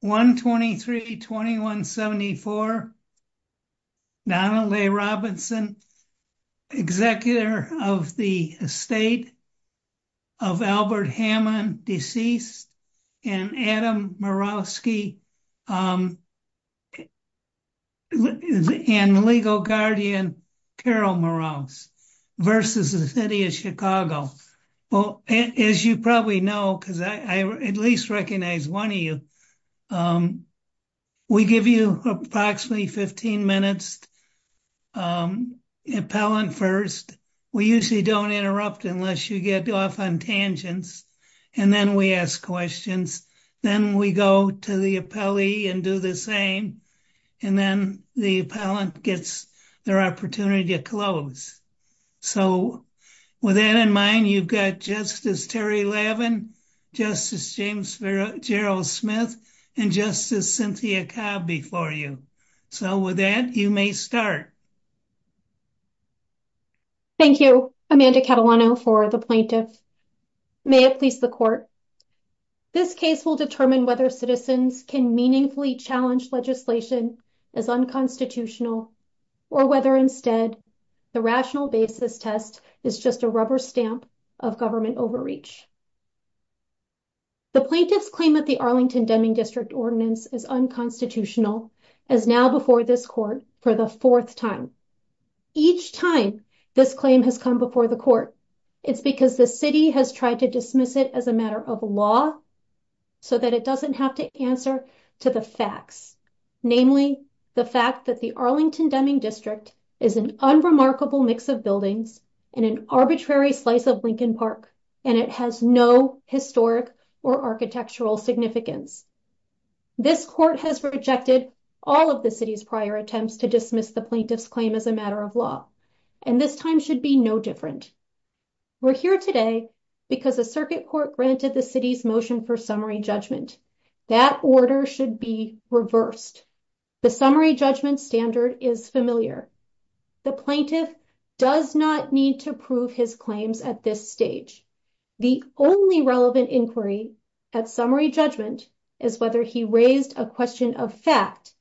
123 2174 Donnelly Robinson executor of the state of Albert Hammond deceased and Adam Murawski and legal guardian Carol Morales versus the city of Chicago. Well as you probably know because I at least recognize one of you we give you approximately 15 minutes appellant first we usually don't interrupt unless you get off on tangents and then we ask questions then we go to the appellee and do the same and then the appellant gets their opportunity to close so with that in mind you've got Justice Terry Lavin, Justice James Jarrell Smith, and Justice Cynthia Cobb before you so with that you may start. Thank you Amanda Catalano for the plaintiff. May it please the court this case will determine whether citizens can meaningfully challenge legislation as unconstitutional or whether instead the rational basis test is just a rubber stamp of government overreach. The plaintiff's claim that the Arlington Deming district ordinance is unconstitutional as now before this court for the fourth time. Each time this claim has come before the court it's because the city has tried to dismiss it as a matter of law so that it doesn't have to answer to the facts namely the fact that the Arlington Deming district is an unremarkable mix of buildings in an arbitrary slice of Lincoln Park and it has no historic or architectural significance. This court has rejected all of the city's prior attempts to dismiss the plaintiff's claim as a matter of law and this time should be no different. We're here today because the court granted the city's motion for summary judgment. That order should be reversed. The summary judgment standard is familiar. The plaintiff does not need to prove his claims at this stage. The only relevant inquiry at summary judgment is whether he raised a question of fact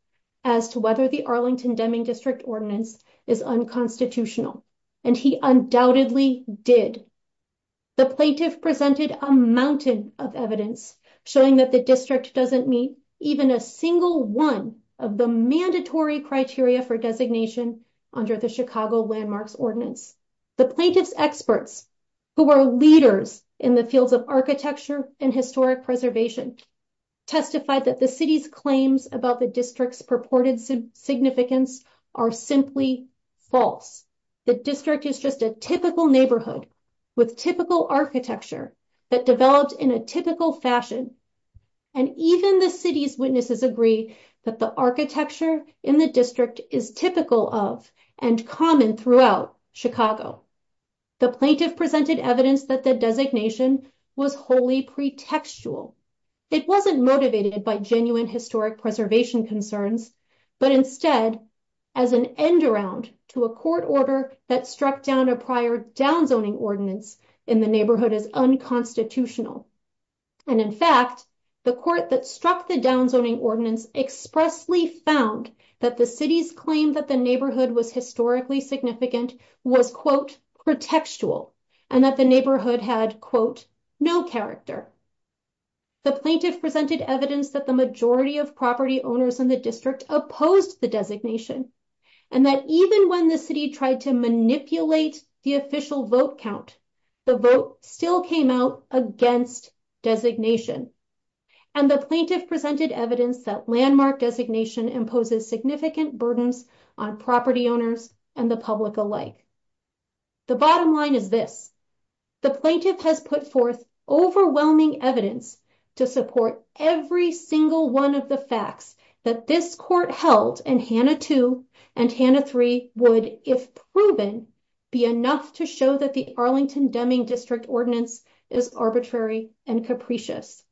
as to whether the Arlington Deming district ordinance is unconstitutional and he undoubtedly did. The plaintiff presented a mountain of evidence showing that the district doesn't meet even a single one of the mandatory criteria for designation under the Chicago landmarks ordinance. The plaintiff's experts who are leaders in the fields of architecture and historic preservation testified that the city's claims about the district's purported significance are simply false. The district is just a typical neighborhood with typical architecture that developed in a typical fashion and even the city's witnesses agree that the architecture in the district is typical of and common throughout Chicago. The plaintiff presented evidence that the designation was wholly pre-textual. It wasn't motivated by genuine historic preservation concerns but instead as an end-around to a court order that struck down a prior downzoning ordinance in the neighborhood as unconstitutional and in fact the court that struck the downzoning ordinance expressly found that the city's claim that the neighborhood was historically significant was quote pre-textual and that the neighborhood had quote no character. The plaintiff presented evidence that the majority of property owners in the district opposed the designation and that even when the city tried to manipulate the official vote count the vote still came out against designation and the plaintiff presented evidence that landmark designation imposes significant burdens on property owners and the public alike. The bottom line is this the plaintiff has put forth overwhelming evidence to support every single one of the facts that this court held and Hannah 2 and Hannah 3 would if proven be enough to show that the Arlington Deming district ordinance is arbitrary and capricious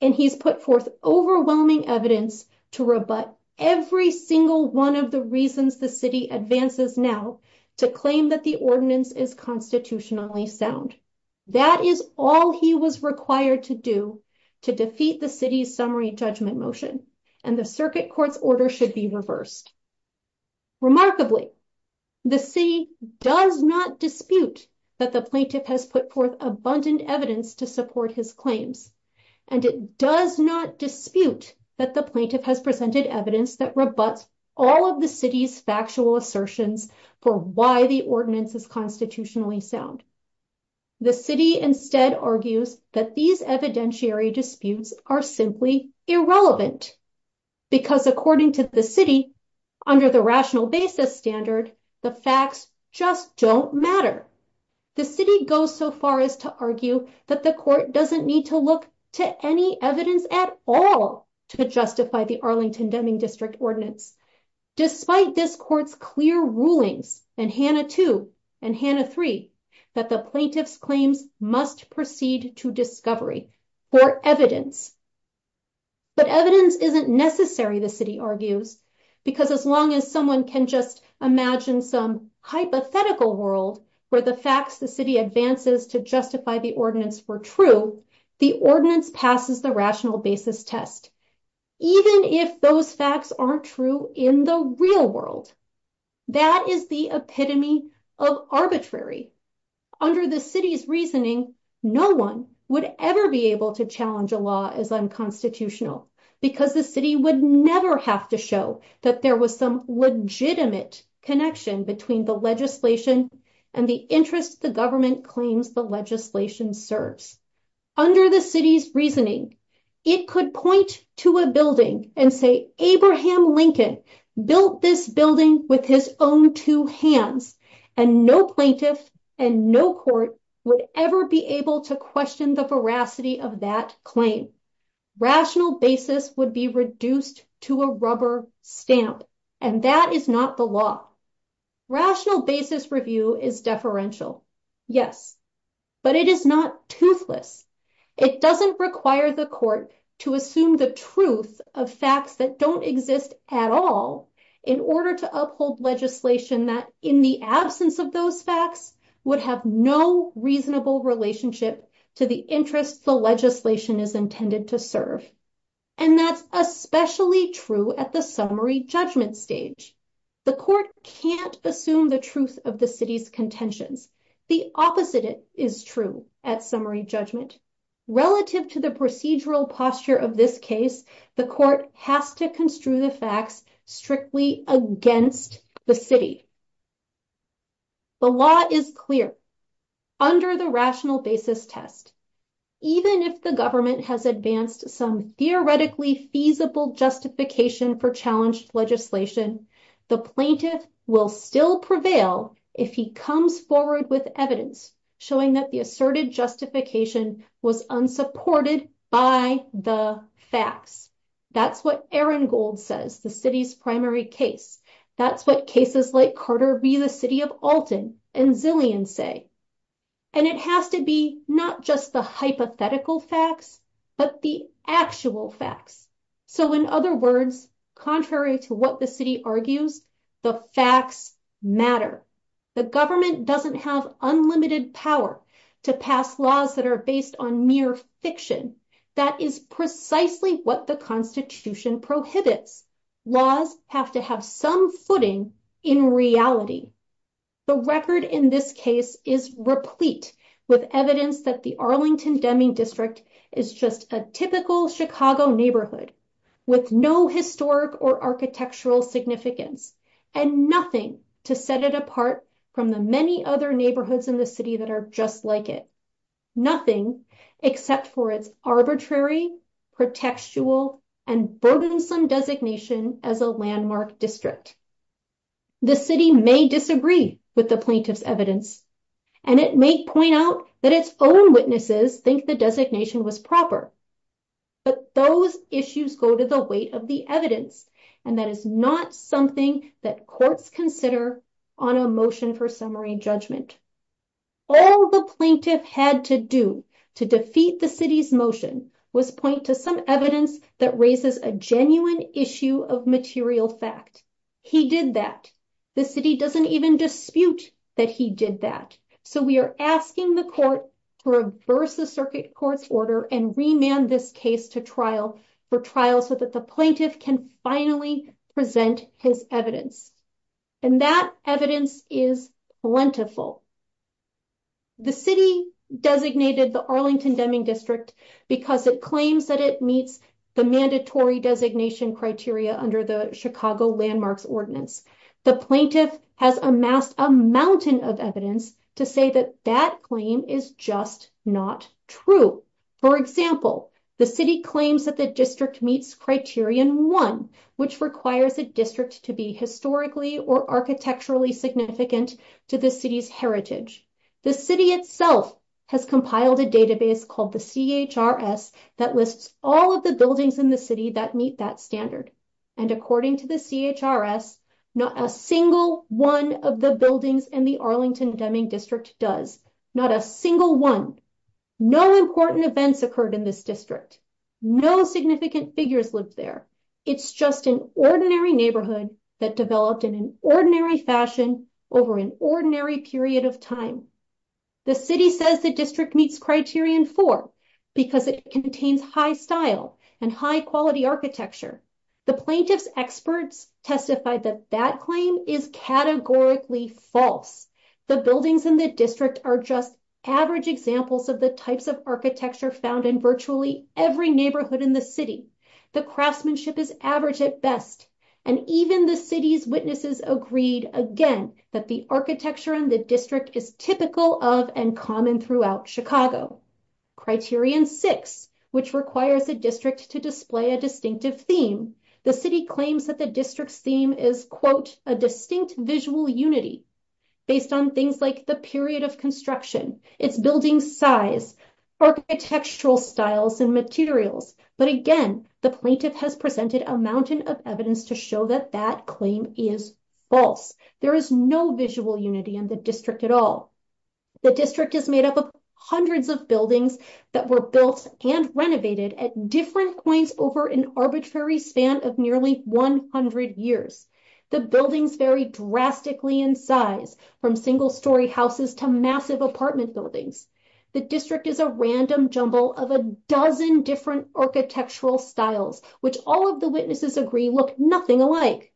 and he's put forth overwhelming evidence to rebut every single one of the reasons the city advances now to claim that the ordinance is constitutionally sound. That is all he was required to do to defeat the city's summary judgment motion and the circuit court's order should be reversed. Remarkably the city does not dispute that the plaintiff has put forth abundant evidence to support his claims and it does not dispute that the plaintiff has presented evidence that rebuts all of the city's factual assertions for why the ordinance is sound. The city instead argues that these evidentiary disputes are simply irrelevant because according to the city under the rational basis standard the facts just don't matter. The city goes so far as to argue that the court doesn't need to look to any evidence at all to justify the Arlington Deming district ordinance despite this court's clear rulings and Hannah 2 and Hannah 3 that the plaintiff's claims must proceed to discovery for evidence. But evidence isn't necessary the city argues because as long as someone can just imagine some hypothetical world where the facts the city advances to justify the ordinance were true, the ordinance passes the rational basis test even if those facts aren't true in the real world. That is the epitome of arbitrary. Under the city's reasoning no one would ever be able to challenge a law as unconstitutional because the city would never have to show that there was some legitimate connection between the legislation and the interest the government claims the legislation serves. Under the city's reasoning it could point to a building and say Abraham Lincoln built this building with his own two hands and no plaintiff and no court would ever be able to question the veracity of that claim. Rational basis would be reduced to a rubber stamp and that is not the law. Rational basis review is deferential yes but it is not toothless. It doesn't require the court to assume the truth of facts that don't exist at all in order to uphold legislation that in the absence of those facts would have no reasonable relationship to the interest the legislation is intended to serve and that's especially true at the summary judgment stage. The court can't assume the truth of the city's contentions. The opposite is true at summary judgment. Relative to the procedural posture of this case the court has to construe the facts strictly against the city. The law is clear under the rational basis test even if the government has advanced some theoretically feasible justification for challenged legislation the plaintiff will still prevail if he comes forward with evidence showing that the asserted justification was unsupported by the facts. That's what Ehrengold says the city's primary case. That's what cases like Carter v. the city of Alton and Zillian say and it has to be not just the hypothetical facts but the actual facts. So in other words contrary to what the city argues the facts matter. The government doesn't have unlimited power to pass laws that are based on mere fiction. That is precisely what the constitution prohibits. Laws have to have some footing in reality. The record in this case is replete with evidence that the Arlington Deming district is just a typical Chicago neighborhood with no historic or architectural significance and nothing to set it apart from the many other neighborhoods in the city that are just like it. Nothing except for its arbitrary pretextual and burdensome designation as a landmark district. The city may disagree with the plaintiff's evidence and it may point out that its own witnesses think the designation was proper but those issues go to the weight of the evidence and that is not something that courts consider on a motion for summary judgment. All the plaintiff had to do to defeat the city's motion was point to some evidence that raises a genuine issue of material fact. He did that. The city doesn't even dispute that he did that. So we are asking the court to reverse the circuit court's order and remand this case to trial for trial so that the finally present his evidence and that evidence is plentiful. The city designated the Arlington Deming district because it claims that it meets the mandatory designation criteria under the Chicago landmarks ordinance. The plaintiff has amassed a mountain of evidence to say that that claim is just not true. For example, the city claims that the district meets criterion one which requires a district to be historically or architecturally significant to the city's heritage. The city itself has compiled a database called the CHRS that lists all of the buildings in the city that meet that standard and according to the CHRS not a single one of the buildings in Arlington Deming district does. Not a single one. No important events occurred in this district. No significant figures lived there. It's just an ordinary neighborhood that developed in an ordinary fashion over an ordinary period of time. The city says the district meets criterion four because it contains high style and high quality architecture. The plaintiff's experts testified that that claim is categorically false. The buildings in the district are just average examples of the types of architecture found in virtually every neighborhood in the city. The craftsmanship is average at best and even the city's witnesses agreed again that the architecture in the district is typical of and common throughout Chicago. Criterion six which requires a district to display a distinctive theme. The city claims that the district's theme is quote a distinct visual unity based on things like the period of construction, its building size, architectural styles and materials but again the plaintiff has presented a mountain of evidence to show that that claim is false. There is no visual unity in the district at all. The district is made up of hundreds of buildings that were built and renovated at different points over an arbitrary span of nearly 100 years. The buildings vary drastically in size from single-story houses to massive apartment buildings. The district is a random jumble of a dozen different architectural styles which all of the witnesses agree look nothing alike.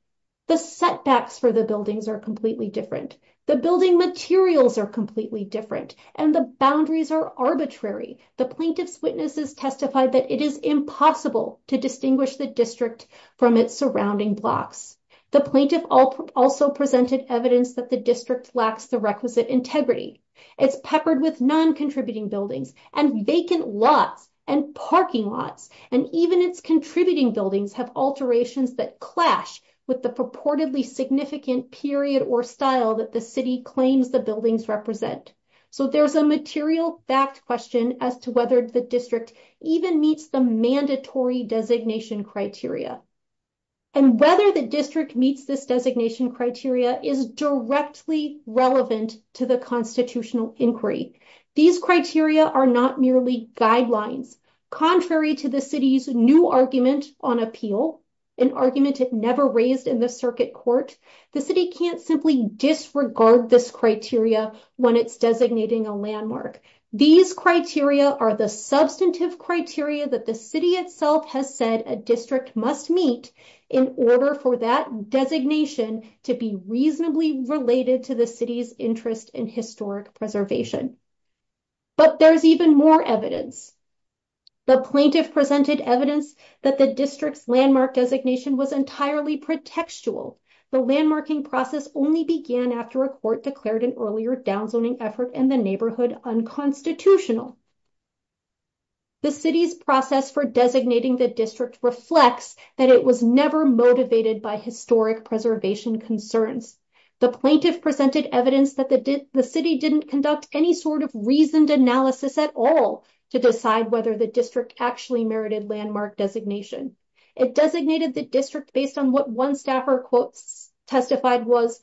The setbacks for the buildings are completely different. The building materials are completely different and the boundaries are arbitrary. The plaintiff's witnesses testified that it is impossible to distinguish the district from its surrounding blocks. The plaintiff also presented evidence that the district lacks the requisite integrity. It's peppered with non-contributing buildings and vacant lots and parking lots and even its contributing buildings have alterations that clash with purportedly significant period or style that the city claims the buildings represent. So there's a material fact question as to whether the district even meets the mandatory designation criteria and whether the district meets this designation criteria is directly relevant to the constitutional inquiry. These criteria are not merely guidelines. Contrary to the city's new argument on appeal, an argument it never raised in the circuit court, the city can't simply disregard this criteria when it's designating a landmark. These criteria are the substantive criteria that the city itself has said a district must meet in order for that designation to be reasonably related to the city's interest in historic preservation. But there's even more evidence. The plaintiff presented evidence that the district's landmark designation was entirely pretextual. The landmarking process only began after a court declared an earlier downzoning effort in the neighborhood unconstitutional. The city's process for designating the district reflects that it was never motivated by historic preservation concerns. The plaintiff presented evidence that the city didn't conduct any reasoned analysis at all to decide whether the district actually merited landmark designation. It designated the district based on what one staffer testified was,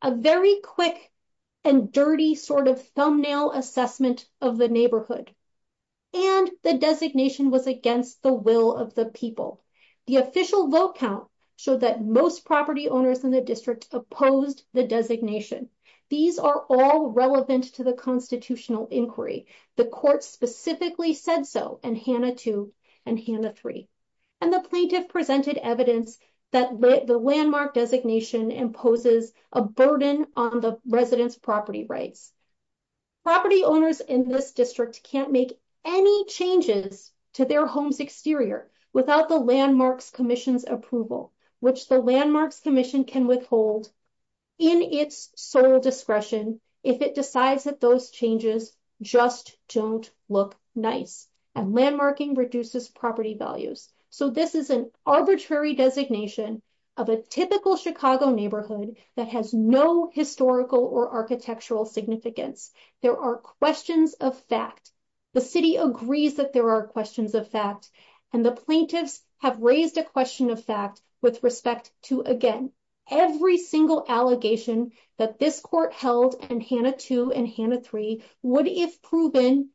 a very quick and dirty sort of thumbnail assessment of the neighborhood. And the designation was against the will of the people. The official vote count showed that most property inquiry. The court specifically said so in Hanna two and Hanna three. And the plaintiff presented evidence that the landmark designation imposes a burden on the residents' property rights. Property owners in this district can't make any changes to their home's exterior without the landmarks commission's approval, which the landmarks commission can withhold in its sole discretion if it decides that those changes just don't look nice. And landmarking reduces property values. So this is an arbitrary designation of a typical Chicago neighborhood that has no historical or architectural significance. There are questions of fact. The city agrees that there are questions of fact, and the plaintiffs have raised a question of fact with respect to, again, every single allegation that this court held in Hanna two and Hanna three would, if proven,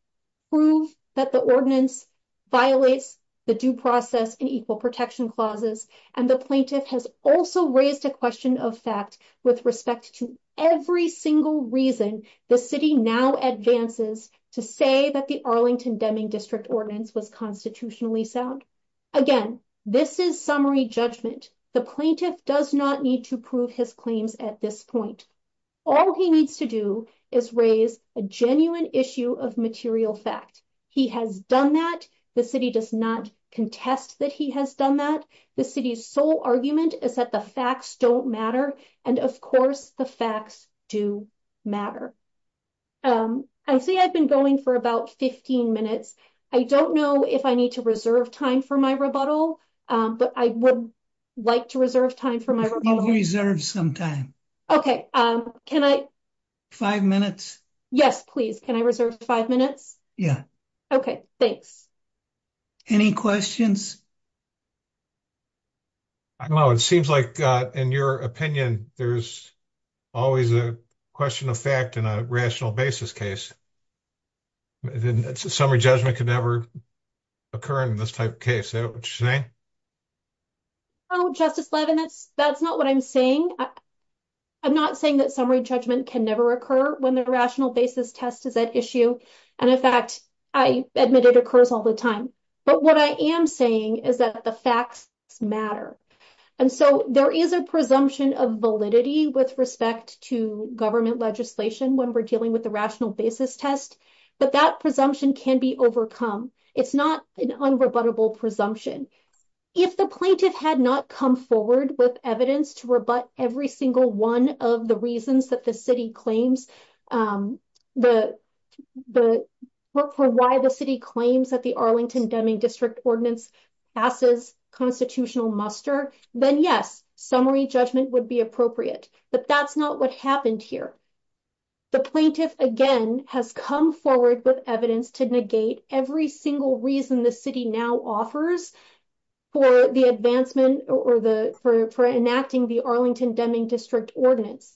prove that the ordinance violates the due process in equal protection clauses. And the plaintiff has also raised a question of fact with respect to every single reason the city now advances to say that the Arlington Deming district ordinance was constitutionally sound. Again, this is summary judgment. The plaintiff does not need to prove his claims at this point. All he needs to do is raise a genuine issue of material fact. He has done that. The city does not contest that he has done that. The city's sole argument is that the facts don't matter, and of course the facts do matter. I say I've been going for about 15 minutes. I don't know if I need to reserve time for my rebuttal, but I would like to reserve time for my rebuttal. You can reserve some time. Okay, can I? Five minutes. Yes, please. Can I reserve five minutes? Yeah. Okay, thanks. Any questions? I don't know. It seems like, in your opinion, there's always a question of fact in a rational basis case. Summary judgment could never occur in this type of case. Is that what you're saying? No, Justice Levin, that's not what I'm saying. I'm not saying that summary judgment can never occur when the rational basis test is at issue, and in fact, I admit it occurs all the time, but what I am saying is that the facts matter, and so there is a presumption of validity with respect to government legislation when we're dealing with the rational basis test, but that presumption can be overcome. It's not an unrebuttable presumption. If the plaintiff had not come forward with evidence to rebut every single one of the reasons that the city claims, or why the city claims that the Arlington Deming District Ordinance passes constitutional muster, then yes, summary judgment would be appropriate, but that's not what happened here. The plaintiff, again, has come forward with evidence to negate every single reason the city now offers for enacting the Arlington Deming District Ordinance,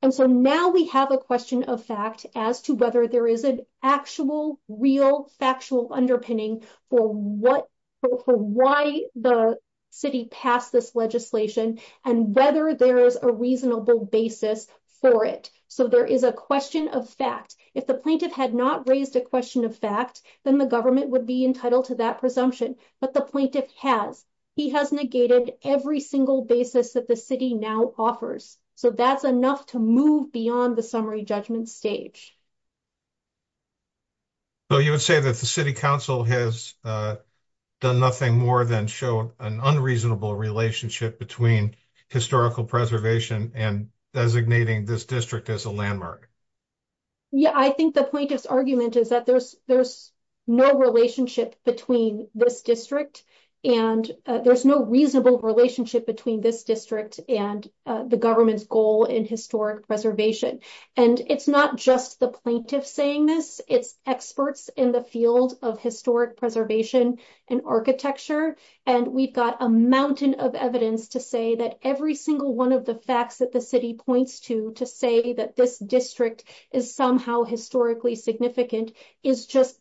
and so now we have a question of fact as to whether there is an actual, real, factual underpinning for why the city passed this legislation and whether there is a reasonable basis for it, so there is a question of fact. If the plaintiff had not raised a question of fact, then the government would be entitled to that presumption, but the plaintiff has. He has negated every single basis that the city now offers, so that's enough to move beyond the summary judgment stage. So you would say that the City Council has done nothing more than show an unreasonable relationship between historical preservation and designating this district as a landmark? Yeah, I think the plaintiff's argument is that there's no relationship between this district, and there's no reasonable relationship between this district and the government's goal in historic preservation, and it's not just the plaintiff saying this. It's experts in the field of historic preservation and architecture, and we've got a mountain of evidence to say that every single one of the facts that the city points to to say that this district is somehow historically significant is just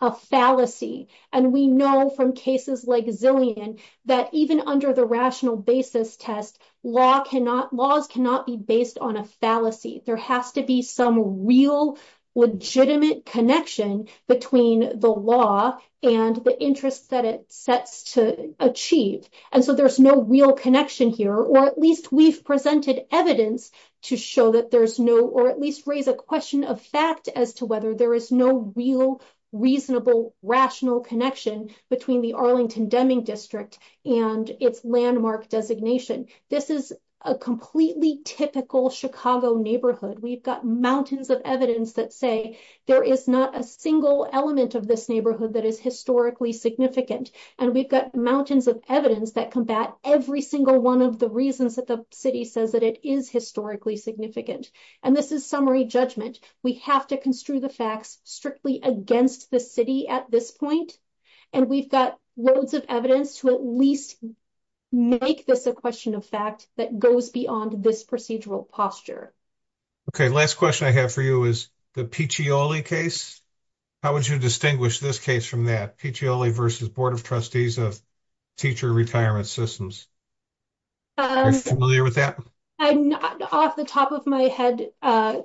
a fallacy, and we know from cases like Zillian that even under the rational basis test, laws cannot be based on a fallacy. There has to be some real legitimate connection between the law and the interest that it sets to achieve, and so there's no real connection here, or at least we've presented evidence to show that there's no, or at least raise a question of fact as to whether there is no real, reasonable, rational connection between the Arlington Deming District and its landmark designation. This is a completely typical Chicago neighborhood. We've got mountains of evidence that say there is not a single element of this neighborhood that is historically significant, and we've got mountains of evidence that combat every single one of the reasons that the city says that it is historically significant, and this is summary judgment. We have to construe the facts strictly against the city at this point, and we've got loads of evidence to at least make this a question of fact that goes beyond this procedural posture. Okay, last question I have for you is the Piccioli case. How would you distinguish this case from that, Piccioli versus Board of Trustees of Teacher Retirement Systems? Are you familiar with that? I'm not. Off the top of my head,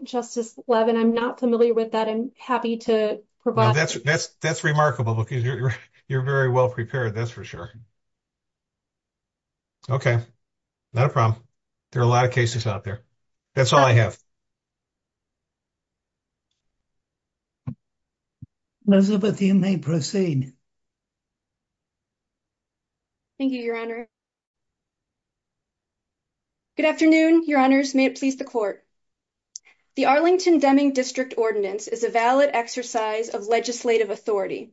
Justice Levin, I'm not familiar with that. I'm happy to provide. That's remarkable because you're very well prepared, that's for sure. Okay, not a problem. There are a lot of cases out there. That's all I have. Elizabeth, you may proceed. Thank you, Your Honor. Good afternoon, Your Honors. May it please the Court. The Arlington-Deming District Ordinance is a valid exercise of legislative authority.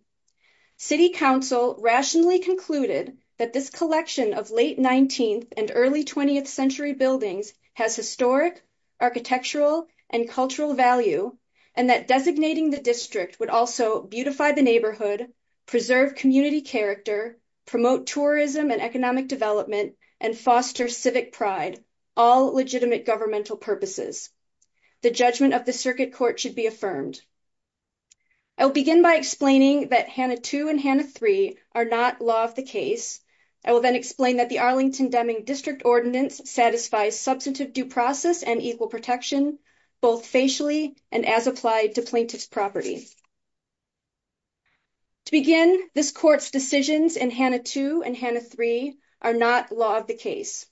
City Council rationally concluded that this collection of late 19th and early 20th century buildings has historic, architectural, and cultural value, and that designating the district would also beautify the neighborhood, preserve community character, promote tourism and economic development, and foster civic pride, all legitimate governmental purposes. The judgment of the Circuit Court should be affirmed. I'll begin by explaining that Hannah 2 and Hannah 3 are not law of the case. I will then explain that the Arlington-Deming District Ordinance satisfies substantive due process and equal Hannah 2 and Hannah 3 are not law of the case.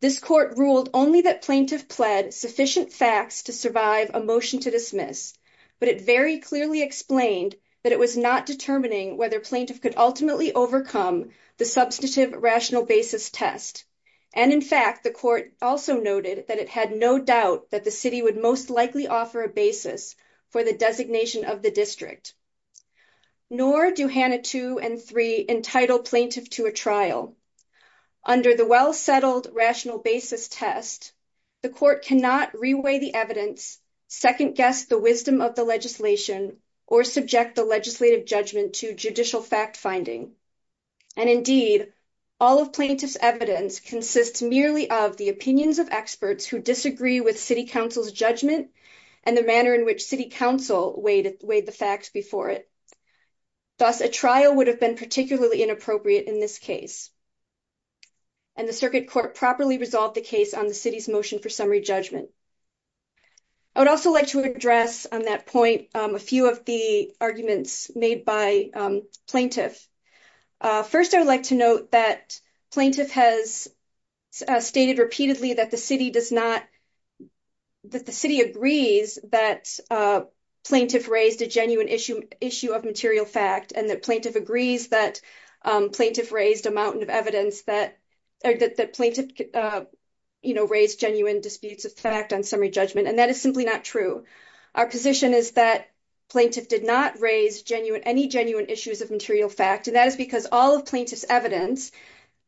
This Court ruled only that plaintiff pled sufficient facts to survive a motion to dismiss, but it very clearly explained that it was not determining whether plaintiff could ultimately overcome the substantive rational basis test. And in fact, the Court also noted that it had no doubt that the city would most likely offer a basis for the designation of the district. Nor do Hannah 2 and 3 entitle plaintiff to a trial. Under the well-settled rational basis test, the Court cannot reweigh the evidence, second-guess the wisdom of the legislation, or subject the legislative judgment to judicial fact-finding. And indeed, all of plaintiff's evidence consists merely of the opinions of experts who disagree with City Council's judgment and the manner in which City Council weighed the facts before it. Thus, a trial would have been particularly inappropriate in this case. And the Circuit Court properly resolved the case on the City's motion for summary judgment. I would also like to address on that point a few of the arguments made by plaintiff. First, I'd like to note that plaintiff has stated repeatedly that the city agrees that plaintiff raised a genuine issue of material fact, and that plaintiff agrees that plaintiff raised a mountain of evidence that plaintiff raised genuine disputes of fact on summary judgment. And that is simply not true. Our position is that plaintiff did not raise any genuine issues of material fact, and that is because all of plaintiff's evidence,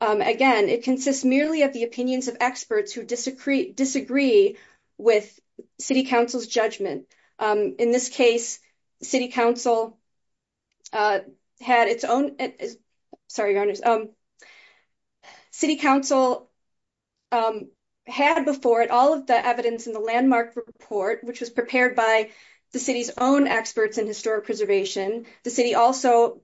again, it consists merely of the opinions of experts who disagree with City Council's judgment. In this case, City Council had before it all of the evidence in the landmark report, which was prepared by the City's own experts in historic preservation. The city also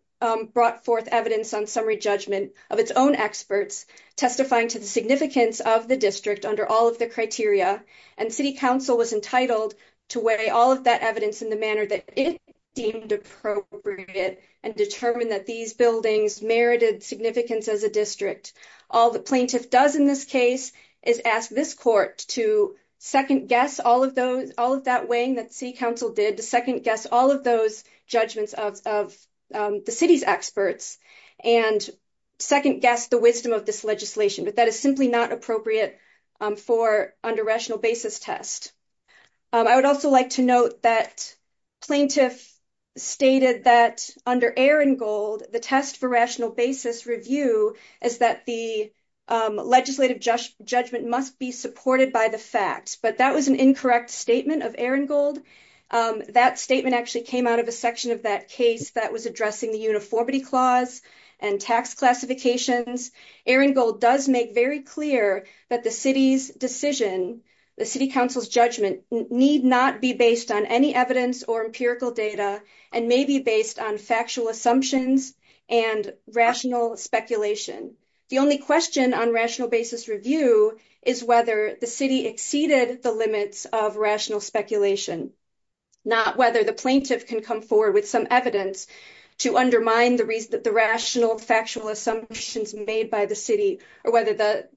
brought forth evidence on summary judgment of its own experts, testifying to the significance of the district under all of the criteria. And City Council was entitled to weigh all of that evidence in the manner that it deemed appropriate and determine that these buildings merited significance as a district. All the plaintiff does in this case is ask this court to second guess all of that weighing that City Council did, to second guess all of those judgments of the city's experts, and second guess the wisdom of this legislation. But that is simply not appropriate for under rational basis test. I would also like to note that plaintiff stated that under Aringold, the test for rational basis review is that the legislative judgment must be supported by the facts. But that was an incorrect statement of Aringold. That statement actually came out of a section of that case that was addressing the uniformity clause and tax classifications. Aringold does make very clear that the City's decision, the City Council's judgment, need not be based on any evidence or empirical data, and may be based on factual assumptions and rational speculation. The only question on basis review is whether the City exceeded the limits of rational speculation, not whether the plaintiff can come forward with some evidence to undermine the rational, factual assumptions made by the City, or whether the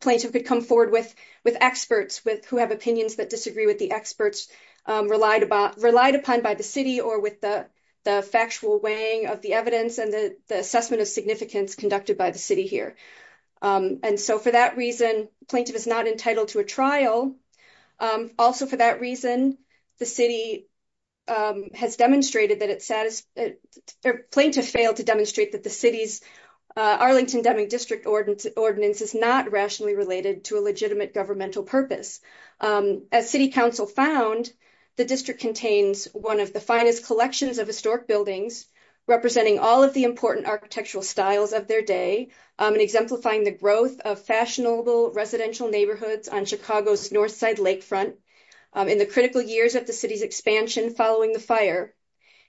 plaintiff could come forward with experts who have opinions that disagree with the experts relied upon by the City or with the factual weighing of the evidence and the assessment of significance conducted by the City here. And so for that reason, plaintiff is not entitled to a trial. Also for that reason, the City has demonstrated that it satisfied, plaintiff failed to demonstrate that the City's Arlington Deming District Ordinance is not rationally related to a legitimate governmental purpose. As City Council found, the District contains one of the finest collections of historic buildings, representing all of the important architectural styles of their day, and exemplifying the growth of fashionable residential neighborhoods on Chicago's north side lakefront in the critical years of the City's expansion following the fire.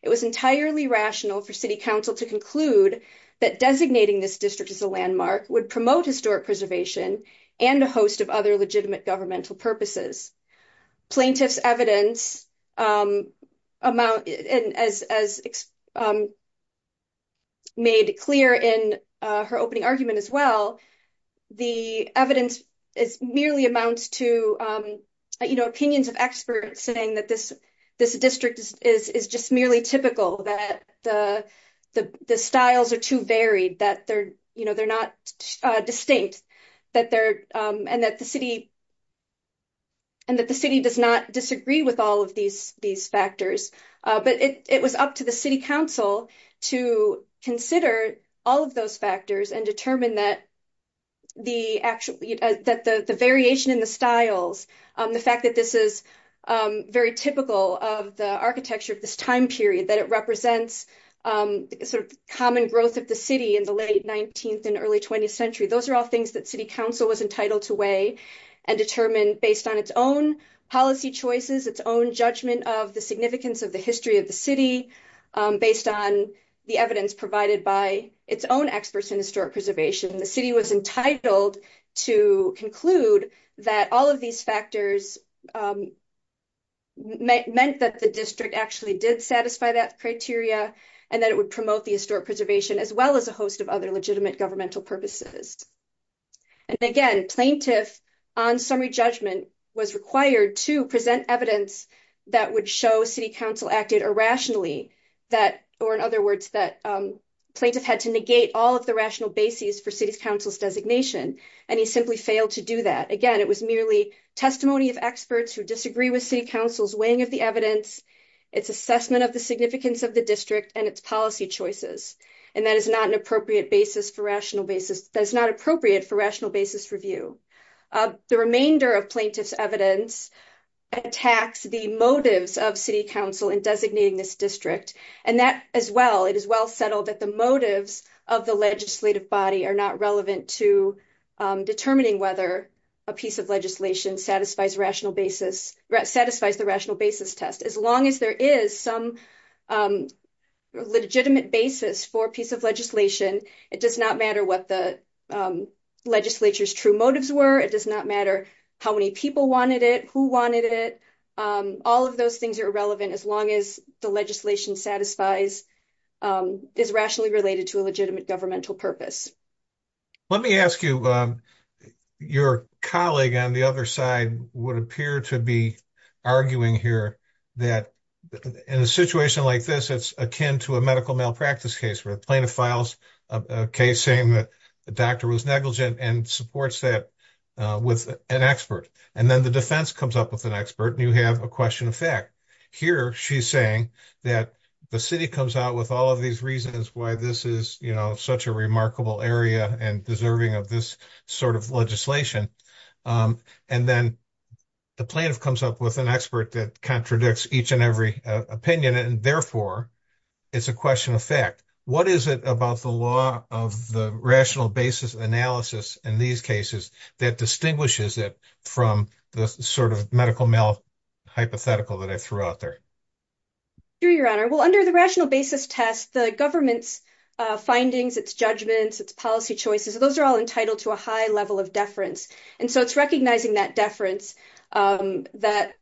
It was entirely rational for City Council to conclude that designating this district as a landmark would promote historic preservation and a host of other legitimate governmental purposes. Plaintiff's evidence, as made clear in her opening argument as well, the evidence merely amounts to opinions of experts saying that this district is just merely typical, that the styles are too varied, that they're not distinct, and that the City does not disagree with all of these factors. But it was up to the City Council to consider all of those factors and determine that the variation in the styles, the fact that this is very typical of the architecture of this time period, that it represents sort of common growth of the City in the late 19th and early 20th century, those are all things that City Council was entitled to weigh and determine based on its own policy choices, its own judgment of the significance of the history of the City, based on the evidence provided by its own experts in historic preservation. The City was entitled to conclude that all of these factors meant that the district actually did satisfy that criteria and that it would promote the historic preservation as well as a host of other legitimate governmental purposes. And again, Plaintiff, on summary judgment, was required to present evidence that would show City Council acted irrationally, that, or in other words, that Plaintiff had to negate all of the rational basis for City Council's designation, and he simply failed to do that. Again, it was merely testimony of experts who disagree with City Council's weighing of the evidence, its assessment of the significance of the district, and its policy choices, and that is not an appropriate basis for rational basis, that is not appropriate for rational basis review. The remainder of Plaintiff's evidence attacks the motives of City Council in designating this district, and that as well, it is well settled that the motives of the legislative body are not relevant to determining whether a piece of legislation satisfies the rational basis test. As long as there is some legitimate basis for a piece of legislation, it does not matter what the legislature's true motives were, it does not matter how many people wanted it, who wanted it, all of those things are irrelevant as long as the legislation satisfies, is rationally related to a legitimate governmental purpose. Let me ask you, your colleague on the other side would appear to be arguing here that in a situation like this, it's akin to a medical malpractice case, where the Plaintiff files a case saying that the doctor was negligent and supports that with an expert, and then the defense comes up with an expert, and you have a question of fact. Here, she's saying that the city comes out with all of these reasons why this is, you know, such a remarkable area and deserving of this sort of legislation, and then the plaintiff comes up with an expert that contradicts each and every opinion, and therefore it's a question of fact. What is it about the law of the rational basis analysis in these cases that distinguishes it from the sort of medical mal-hypothetical that I threw out there? Sure, your honor. Well, under the rational basis test, the government's findings, its judgments, its policy choices, those are all entitled to a high level of deference, and so it's recognizing that deference that,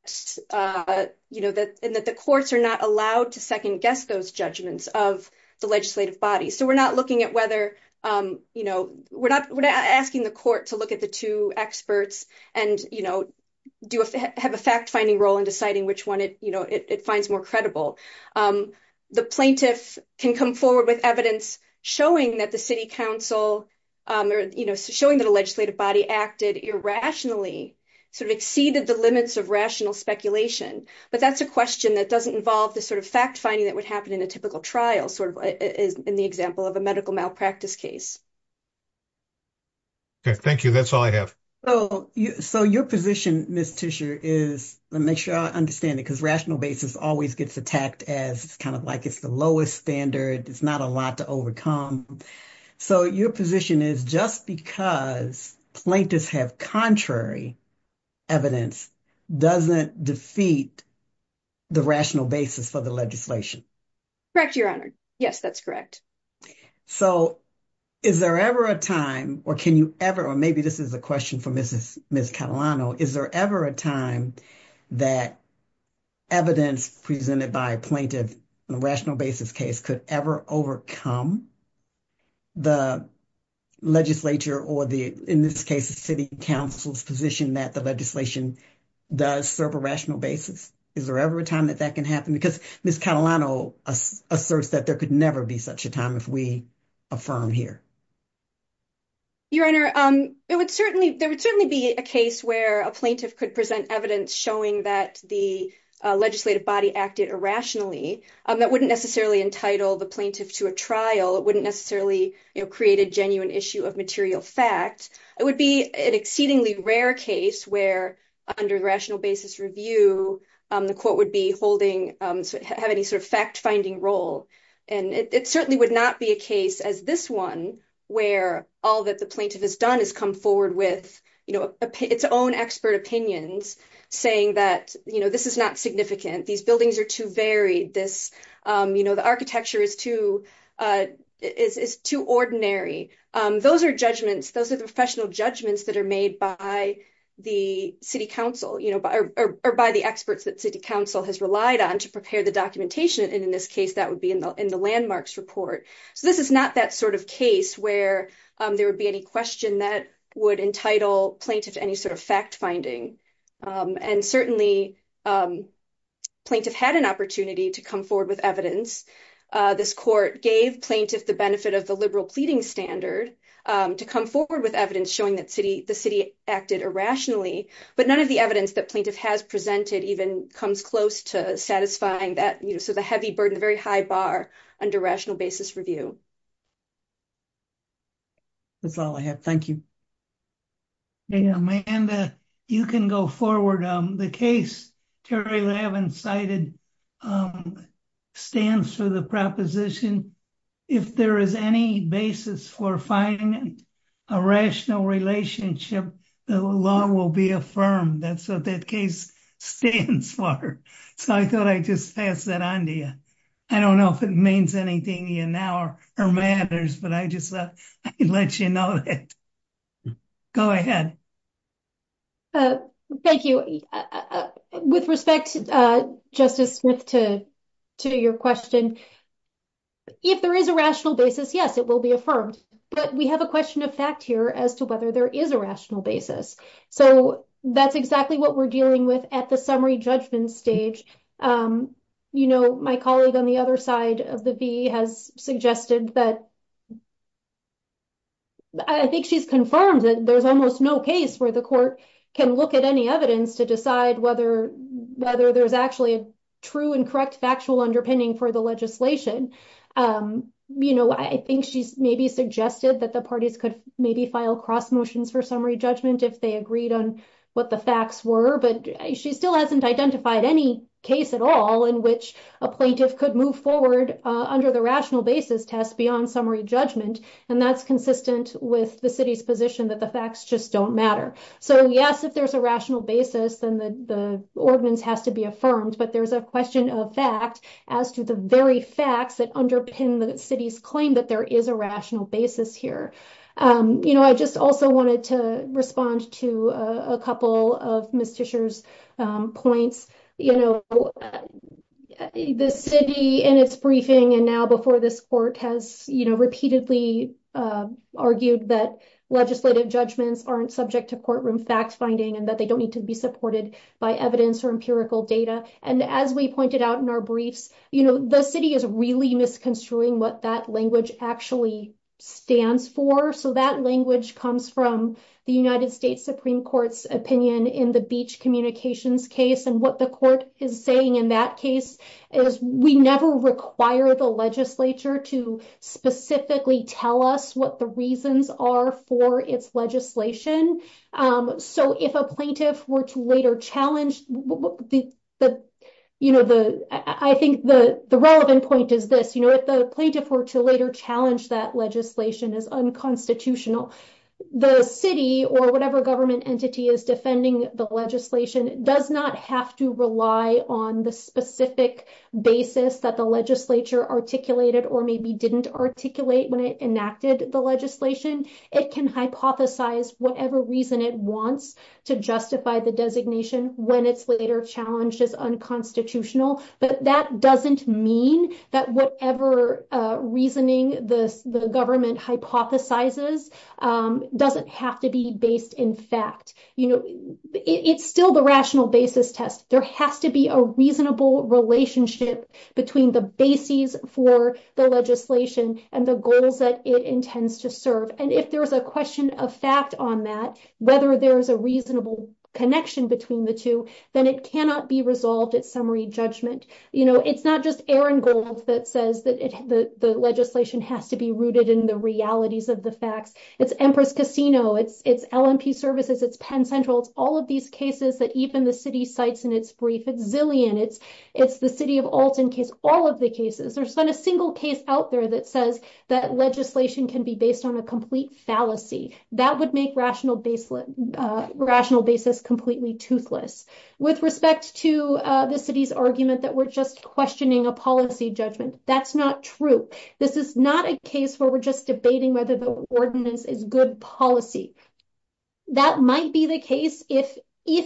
you know, that the courts are not allowed to second-guess those judgments of the legislative body. So we're not looking at whether, you know, we're not asking the court to look at the two experts and, you know, have a fact-finding role in deciding which one it, you know, it finds more credible. The plaintiff can come forward with evidence showing that the city council, or, you know, showing that a legislative body acted irrationally, sort of exceeded the limits of rational speculation, but that's a question that doesn't involve the sort of fact-finding that would happen in a typical trial, sort of in the of a medical malpractice case. Okay, thank you. That's all I have. So your position, Ms. Tischer, is, let me make sure I understand it, because rational basis always gets attacked as kind of like it's the lowest standard, it's not a lot to overcome. So your position is just because plaintiffs have contrary evidence doesn't defeat the rational basis for the legislation. Correct, Your Honor. Yes, that's correct. So is there ever a time, or can you ever, or maybe this is a question for Ms. Catalano, is there ever a time that evidence presented by a plaintiff in a rational basis case could ever overcome the legislature, or the, in this case, the city council's position that the legislation does serve a rational basis? Is there ever a time that that can happen? Because Ms. Catalano asserts that there could never be such a time if we affirm here. Your Honor, it would certainly, there would certainly be a case where a plaintiff could present evidence showing that the legislative body acted irrationally. That wouldn't necessarily entitle the plaintiff to a trial. It wouldn't necessarily create a genuine issue of material fact. It would be an exceedingly rare case where, under rational basis review, the court would be holding, have any sort of fact-finding role. And it certainly would not be a case as this one, where all that the plaintiff has done is come forward with, you know, its own expert opinions saying that, you know, this is not significant, these buildings are too varied, this, you know, the architecture is too, is too ordinary. Those are judgments, those are the professional judgments that are made by the city council, you know, or by the experts that city council has relied on to prepare the documentation. And in this case, that would be in the landmarks report. So this is not that sort of case where there would be any question that would entitle plaintiff to any sort of fact-finding. And certainly, plaintiff had an opportunity to come forward with evidence. This court gave plaintiff the benefit of the liberal pleading standard to come forward with evidence showing that city, the city acted irrationally. But none of the evidence that plaintiff has presented even comes close to satisfying that, you know, so the heavy burden, the very high bar under rational basis review. That's all I have. Thank you. Yeah, Amanda, you can go forward. The case Terry Lavin cited stands for the proposition, if there is any basis for finding a rational relationship, the law will be affirmed. That's what that case stands for. So I thought I'd just pass that on to you. I don't know if it anything in our matters, but I just thought I'd let you know that. Go ahead. Thank you. With respect, Justice Smith, to your question, if there is a rational basis, yes, it will be affirmed. But we have a question of fact here as to whether there is a rational basis. So that's exactly what we're dealing with at the summary judgment stage. You know, my colleague on the other side of the V has suggested that. I think she's confirmed that there's almost no case where the court can look at any evidence to decide whether whether there's actually a true and correct factual underpinning for the legislation. You know, I think she's maybe suggested that the parties could maybe file cross motions for summary judgment if they agreed on what the facts were. But she still hasn't identified any case at all in which a plaintiff could move forward under the rational basis test beyond summary judgment. And that's consistent with the city's position that the facts just don't matter. So, yes, if there's a rational basis, then the ordinance has to be affirmed. But there's a question of fact as to the very facts that underpin the city's claim that there is a rational basis here. You know, I just also wanted to respond to a couple of Ms. Tischer's points. You know, the city in its briefing and now before this court has, you know, repeatedly argued that legislative judgments aren't subject to courtroom facts finding and that they don't need to be supported by evidence or empirical data. And as we pointed out in our briefs, the city is really misconstruing what that language actually stands for. So, that language comes from the United States Supreme Court's opinion in the Beach Communications case. And what the court is saying in that case is we never require the legislature to specifically tell us what the reasons are for its legislation. So, if a plaintiff were to later challenge, the, you know, the, I think the relevant point is this, you know, if the plaintiff were to later challenge that legislation as unconstitutional, the city or whatever government entity is defending the legislation does not have to rely on the specific basis that the legislature articulated or maybe didn't articulate when it enacted the legislation. It can hypothesize whatever reason it wants to justify the designation when it's later challenged as unconstitutional. But that doesn't mean that whatever reasoning the government hypothesizes doesn't have to be based in fact. You know, it's still the rational basis test. There has to be a reasonable relationship between the bases for the legislation and the goals that it intends to serve. And if there's a question of fact on that, whether there's a reasonable connection between the two, then it cannot be resolved at summary judgment. You know, it's not just Aaron Gold that says that the legislation has to be rooted in the realities of the facts. It's Empress Casino. It's LNP Services. It's Penn Central. It's all of these cases that even the city cites in its brief. It's Zillian. It's the city of Alton case. All of the cases. There's not a single case out there that says that legislation can be based on a complete fallacy. That would make rational basis completely toothless. With respect to the city's argument that we're just questioning a policy judgment, that's not true. This is not a case where we're just debating whether the ordinance is good policy. That might be the case if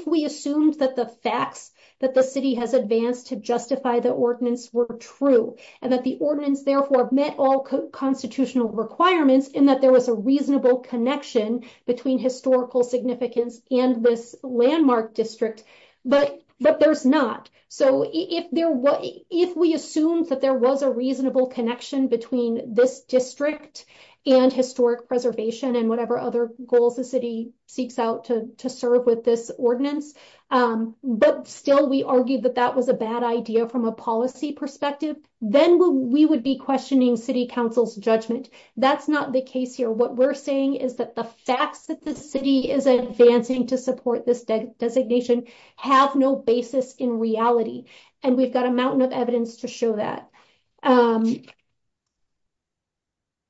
we assumed that the facts that the city has advanced to justify the ordinance were true and that the ordinance therefore met all constitutional requirements and that there was a reasonable connection between historical significance and this landmark district. But there's not. So if we assumed that there was a reasonable connection between this district and historic preservation and whatever other goals the city seeks out to serve with this ordinance, but still we argued that that was a bad idea from a policy perspective, then we would be questioning city council's judgment. That's not the case here. What we're saying is that the facts that the city is advancing to support this designation have no basis in reality. And we've got a mountain of evidence to show that.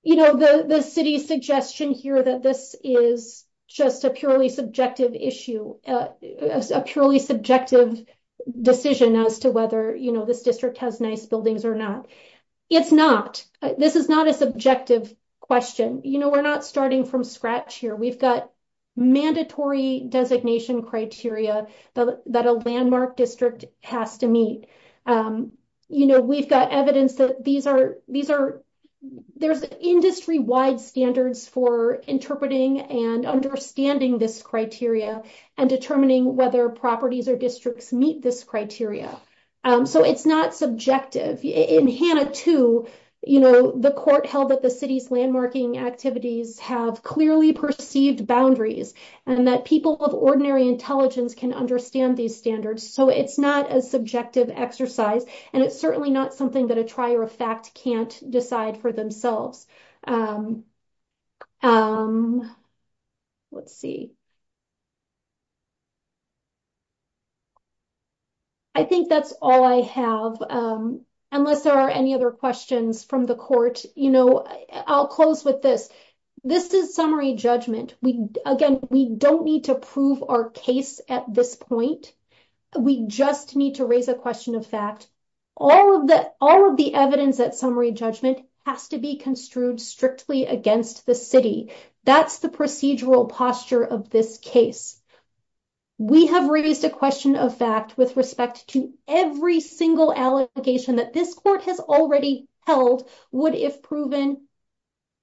You know, the city's suggestion here that this is just a purely subjective decision as to whether, you know, this district has nice buildings or not. It's not. This is not a subjective question. You know, we're not starting from scratch here. We've got mandatory designation criteria that a landmark district has to meet. You know, we've got evidence that there's industry-wide standards for interpreting and understanding this criteria and determining whether properties or districts meet this criteria. So it's not subjective. In Hannah 2, you know, the court held that the city's landmarking activities have clearly perceived boundaries and that people of ordinary intelligence can understand these standards. So it's not a subjective exercise and it's certainly not that a trier of fact can't decide for themselves. Let's see. I think that's all I have. Unless there are any other questions from the court, you know, I'll close with this. This is summary judgment. Again, we don't need to prove our case at this point. We just need to raise a question of fact. All of the evidence at summary judgment has to be construed strictly against the city. That's the procedural posture of this case. We have raised a question of fact with respect to every single allegation that this court has already held would, if proven,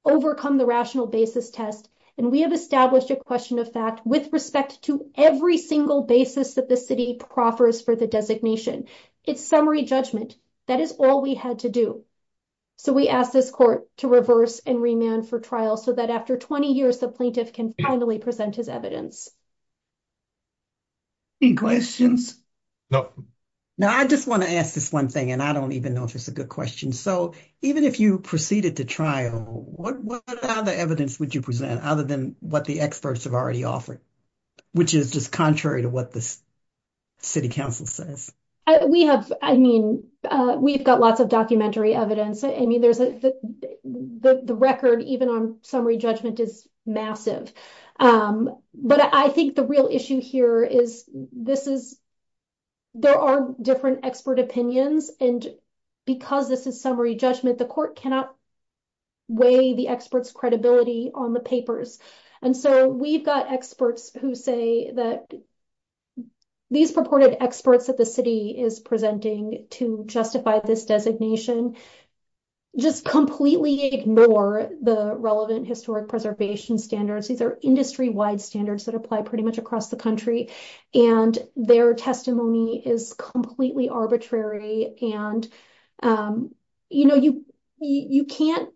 overcome the rational basis test. And we have established a question of fact with respect to every single basis that the city proffers for the designation. It's summary judgment. That is all we had to do. So we ask this court to reverse and remand for trial so that after 20 years, the plaintiff can finally present his evidence. Any questions? No. Now, I just want to ask this one thing, and I don't even know if it's a good question. So even if you proceeded to trial, what other evidence would you present other than what the experts have already offered, which is just contrary to what the city council says? We have, I mean, we've got lots of documentary evidence. I mean, there's a, the record, even on summary judgment, is massive. But I think the real issue here is this is, there are different expert opinions, and because this is summary judgment, the court cannot weigh the experts' credibility on the papers. And so we've got experts who say that these purported experts that the city is presenting to justify this designation just completely ignore the relevant historic preservation standards. These are industry-wide standards that apply pretty much across the country, and their testimony is completely arbitrary. And, you know, you can't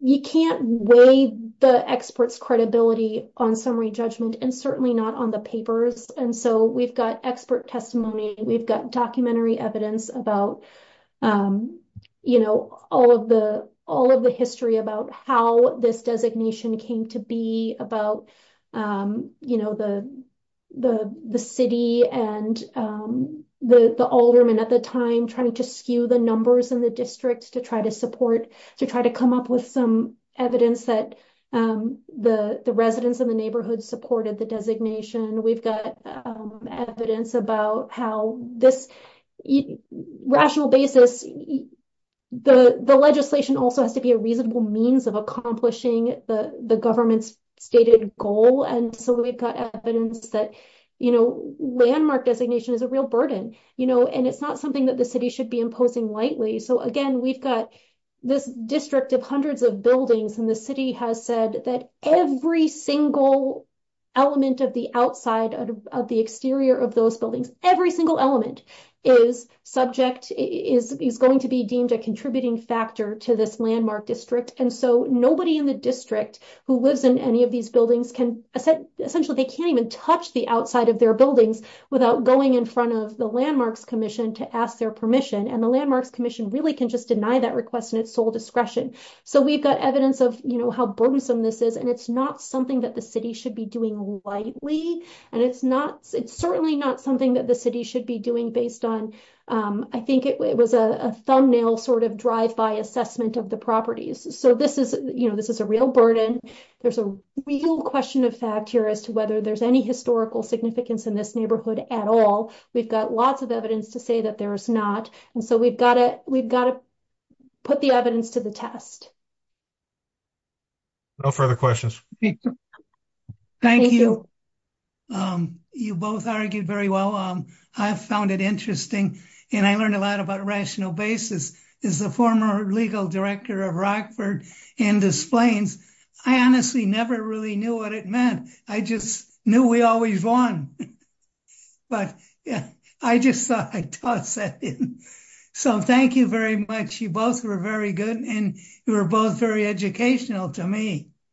weigh the experts' credibility on summary judgment, and certainly not on the papers. And so we've got expert testimony, we've got documentary evidence about, you know, all of the history about how this designation came to be, about, you know, the the city and the alderman at the time trying to skew the numbers in the district to try to support, to try to come up with some evidence that the residents in the neighborhood supported the designation. We've got evidence about how this rational basis, the legislation also has to be a reasonable means of accomplishing the government's stated goal. And so we've got evidence that, you know, landmark designation is a real burden, you know, and it's not something that the city should be imposing lightly. So again, we've got this district of hundreds of buildings, and the city has said that every single element of the outside of the exterior of those buildings, every single element is subject, is going to be deemed a contributing factor to this landmark district. And so nobody in the district who lives in any of these buildings can essentially, they can't even touch the outside of their buildings without going in front of the Landmarks Commission to ask their permission. And the Landmarks Commission really can just deny that request in its sole discretion. So we've got evidence of, you know, how burdensome this is, and it's not something that the city should be doing lightly. And it's not, it's certainly not something that the city should be doing based on, I think it was a thumbnail sort of drive-by assessment of the properties. So this is, you know, this is a real burden. There's a real question of fact here as to whether there's any historical significance in this neighborhood at all. We've got lots of evidence to say that there is not. And so we've got to put the evidence to the test. No further questions. Thank you. You both argued very well. I found it interesting, and I learned a lot about basis as the former legal director of Rockford and Des Plaines. I honestly never really knew what it meant. I just knew we always won. But yeah, I just thought I'd toss that in. So thank you very much. You both were very good, and you were both very educational to me.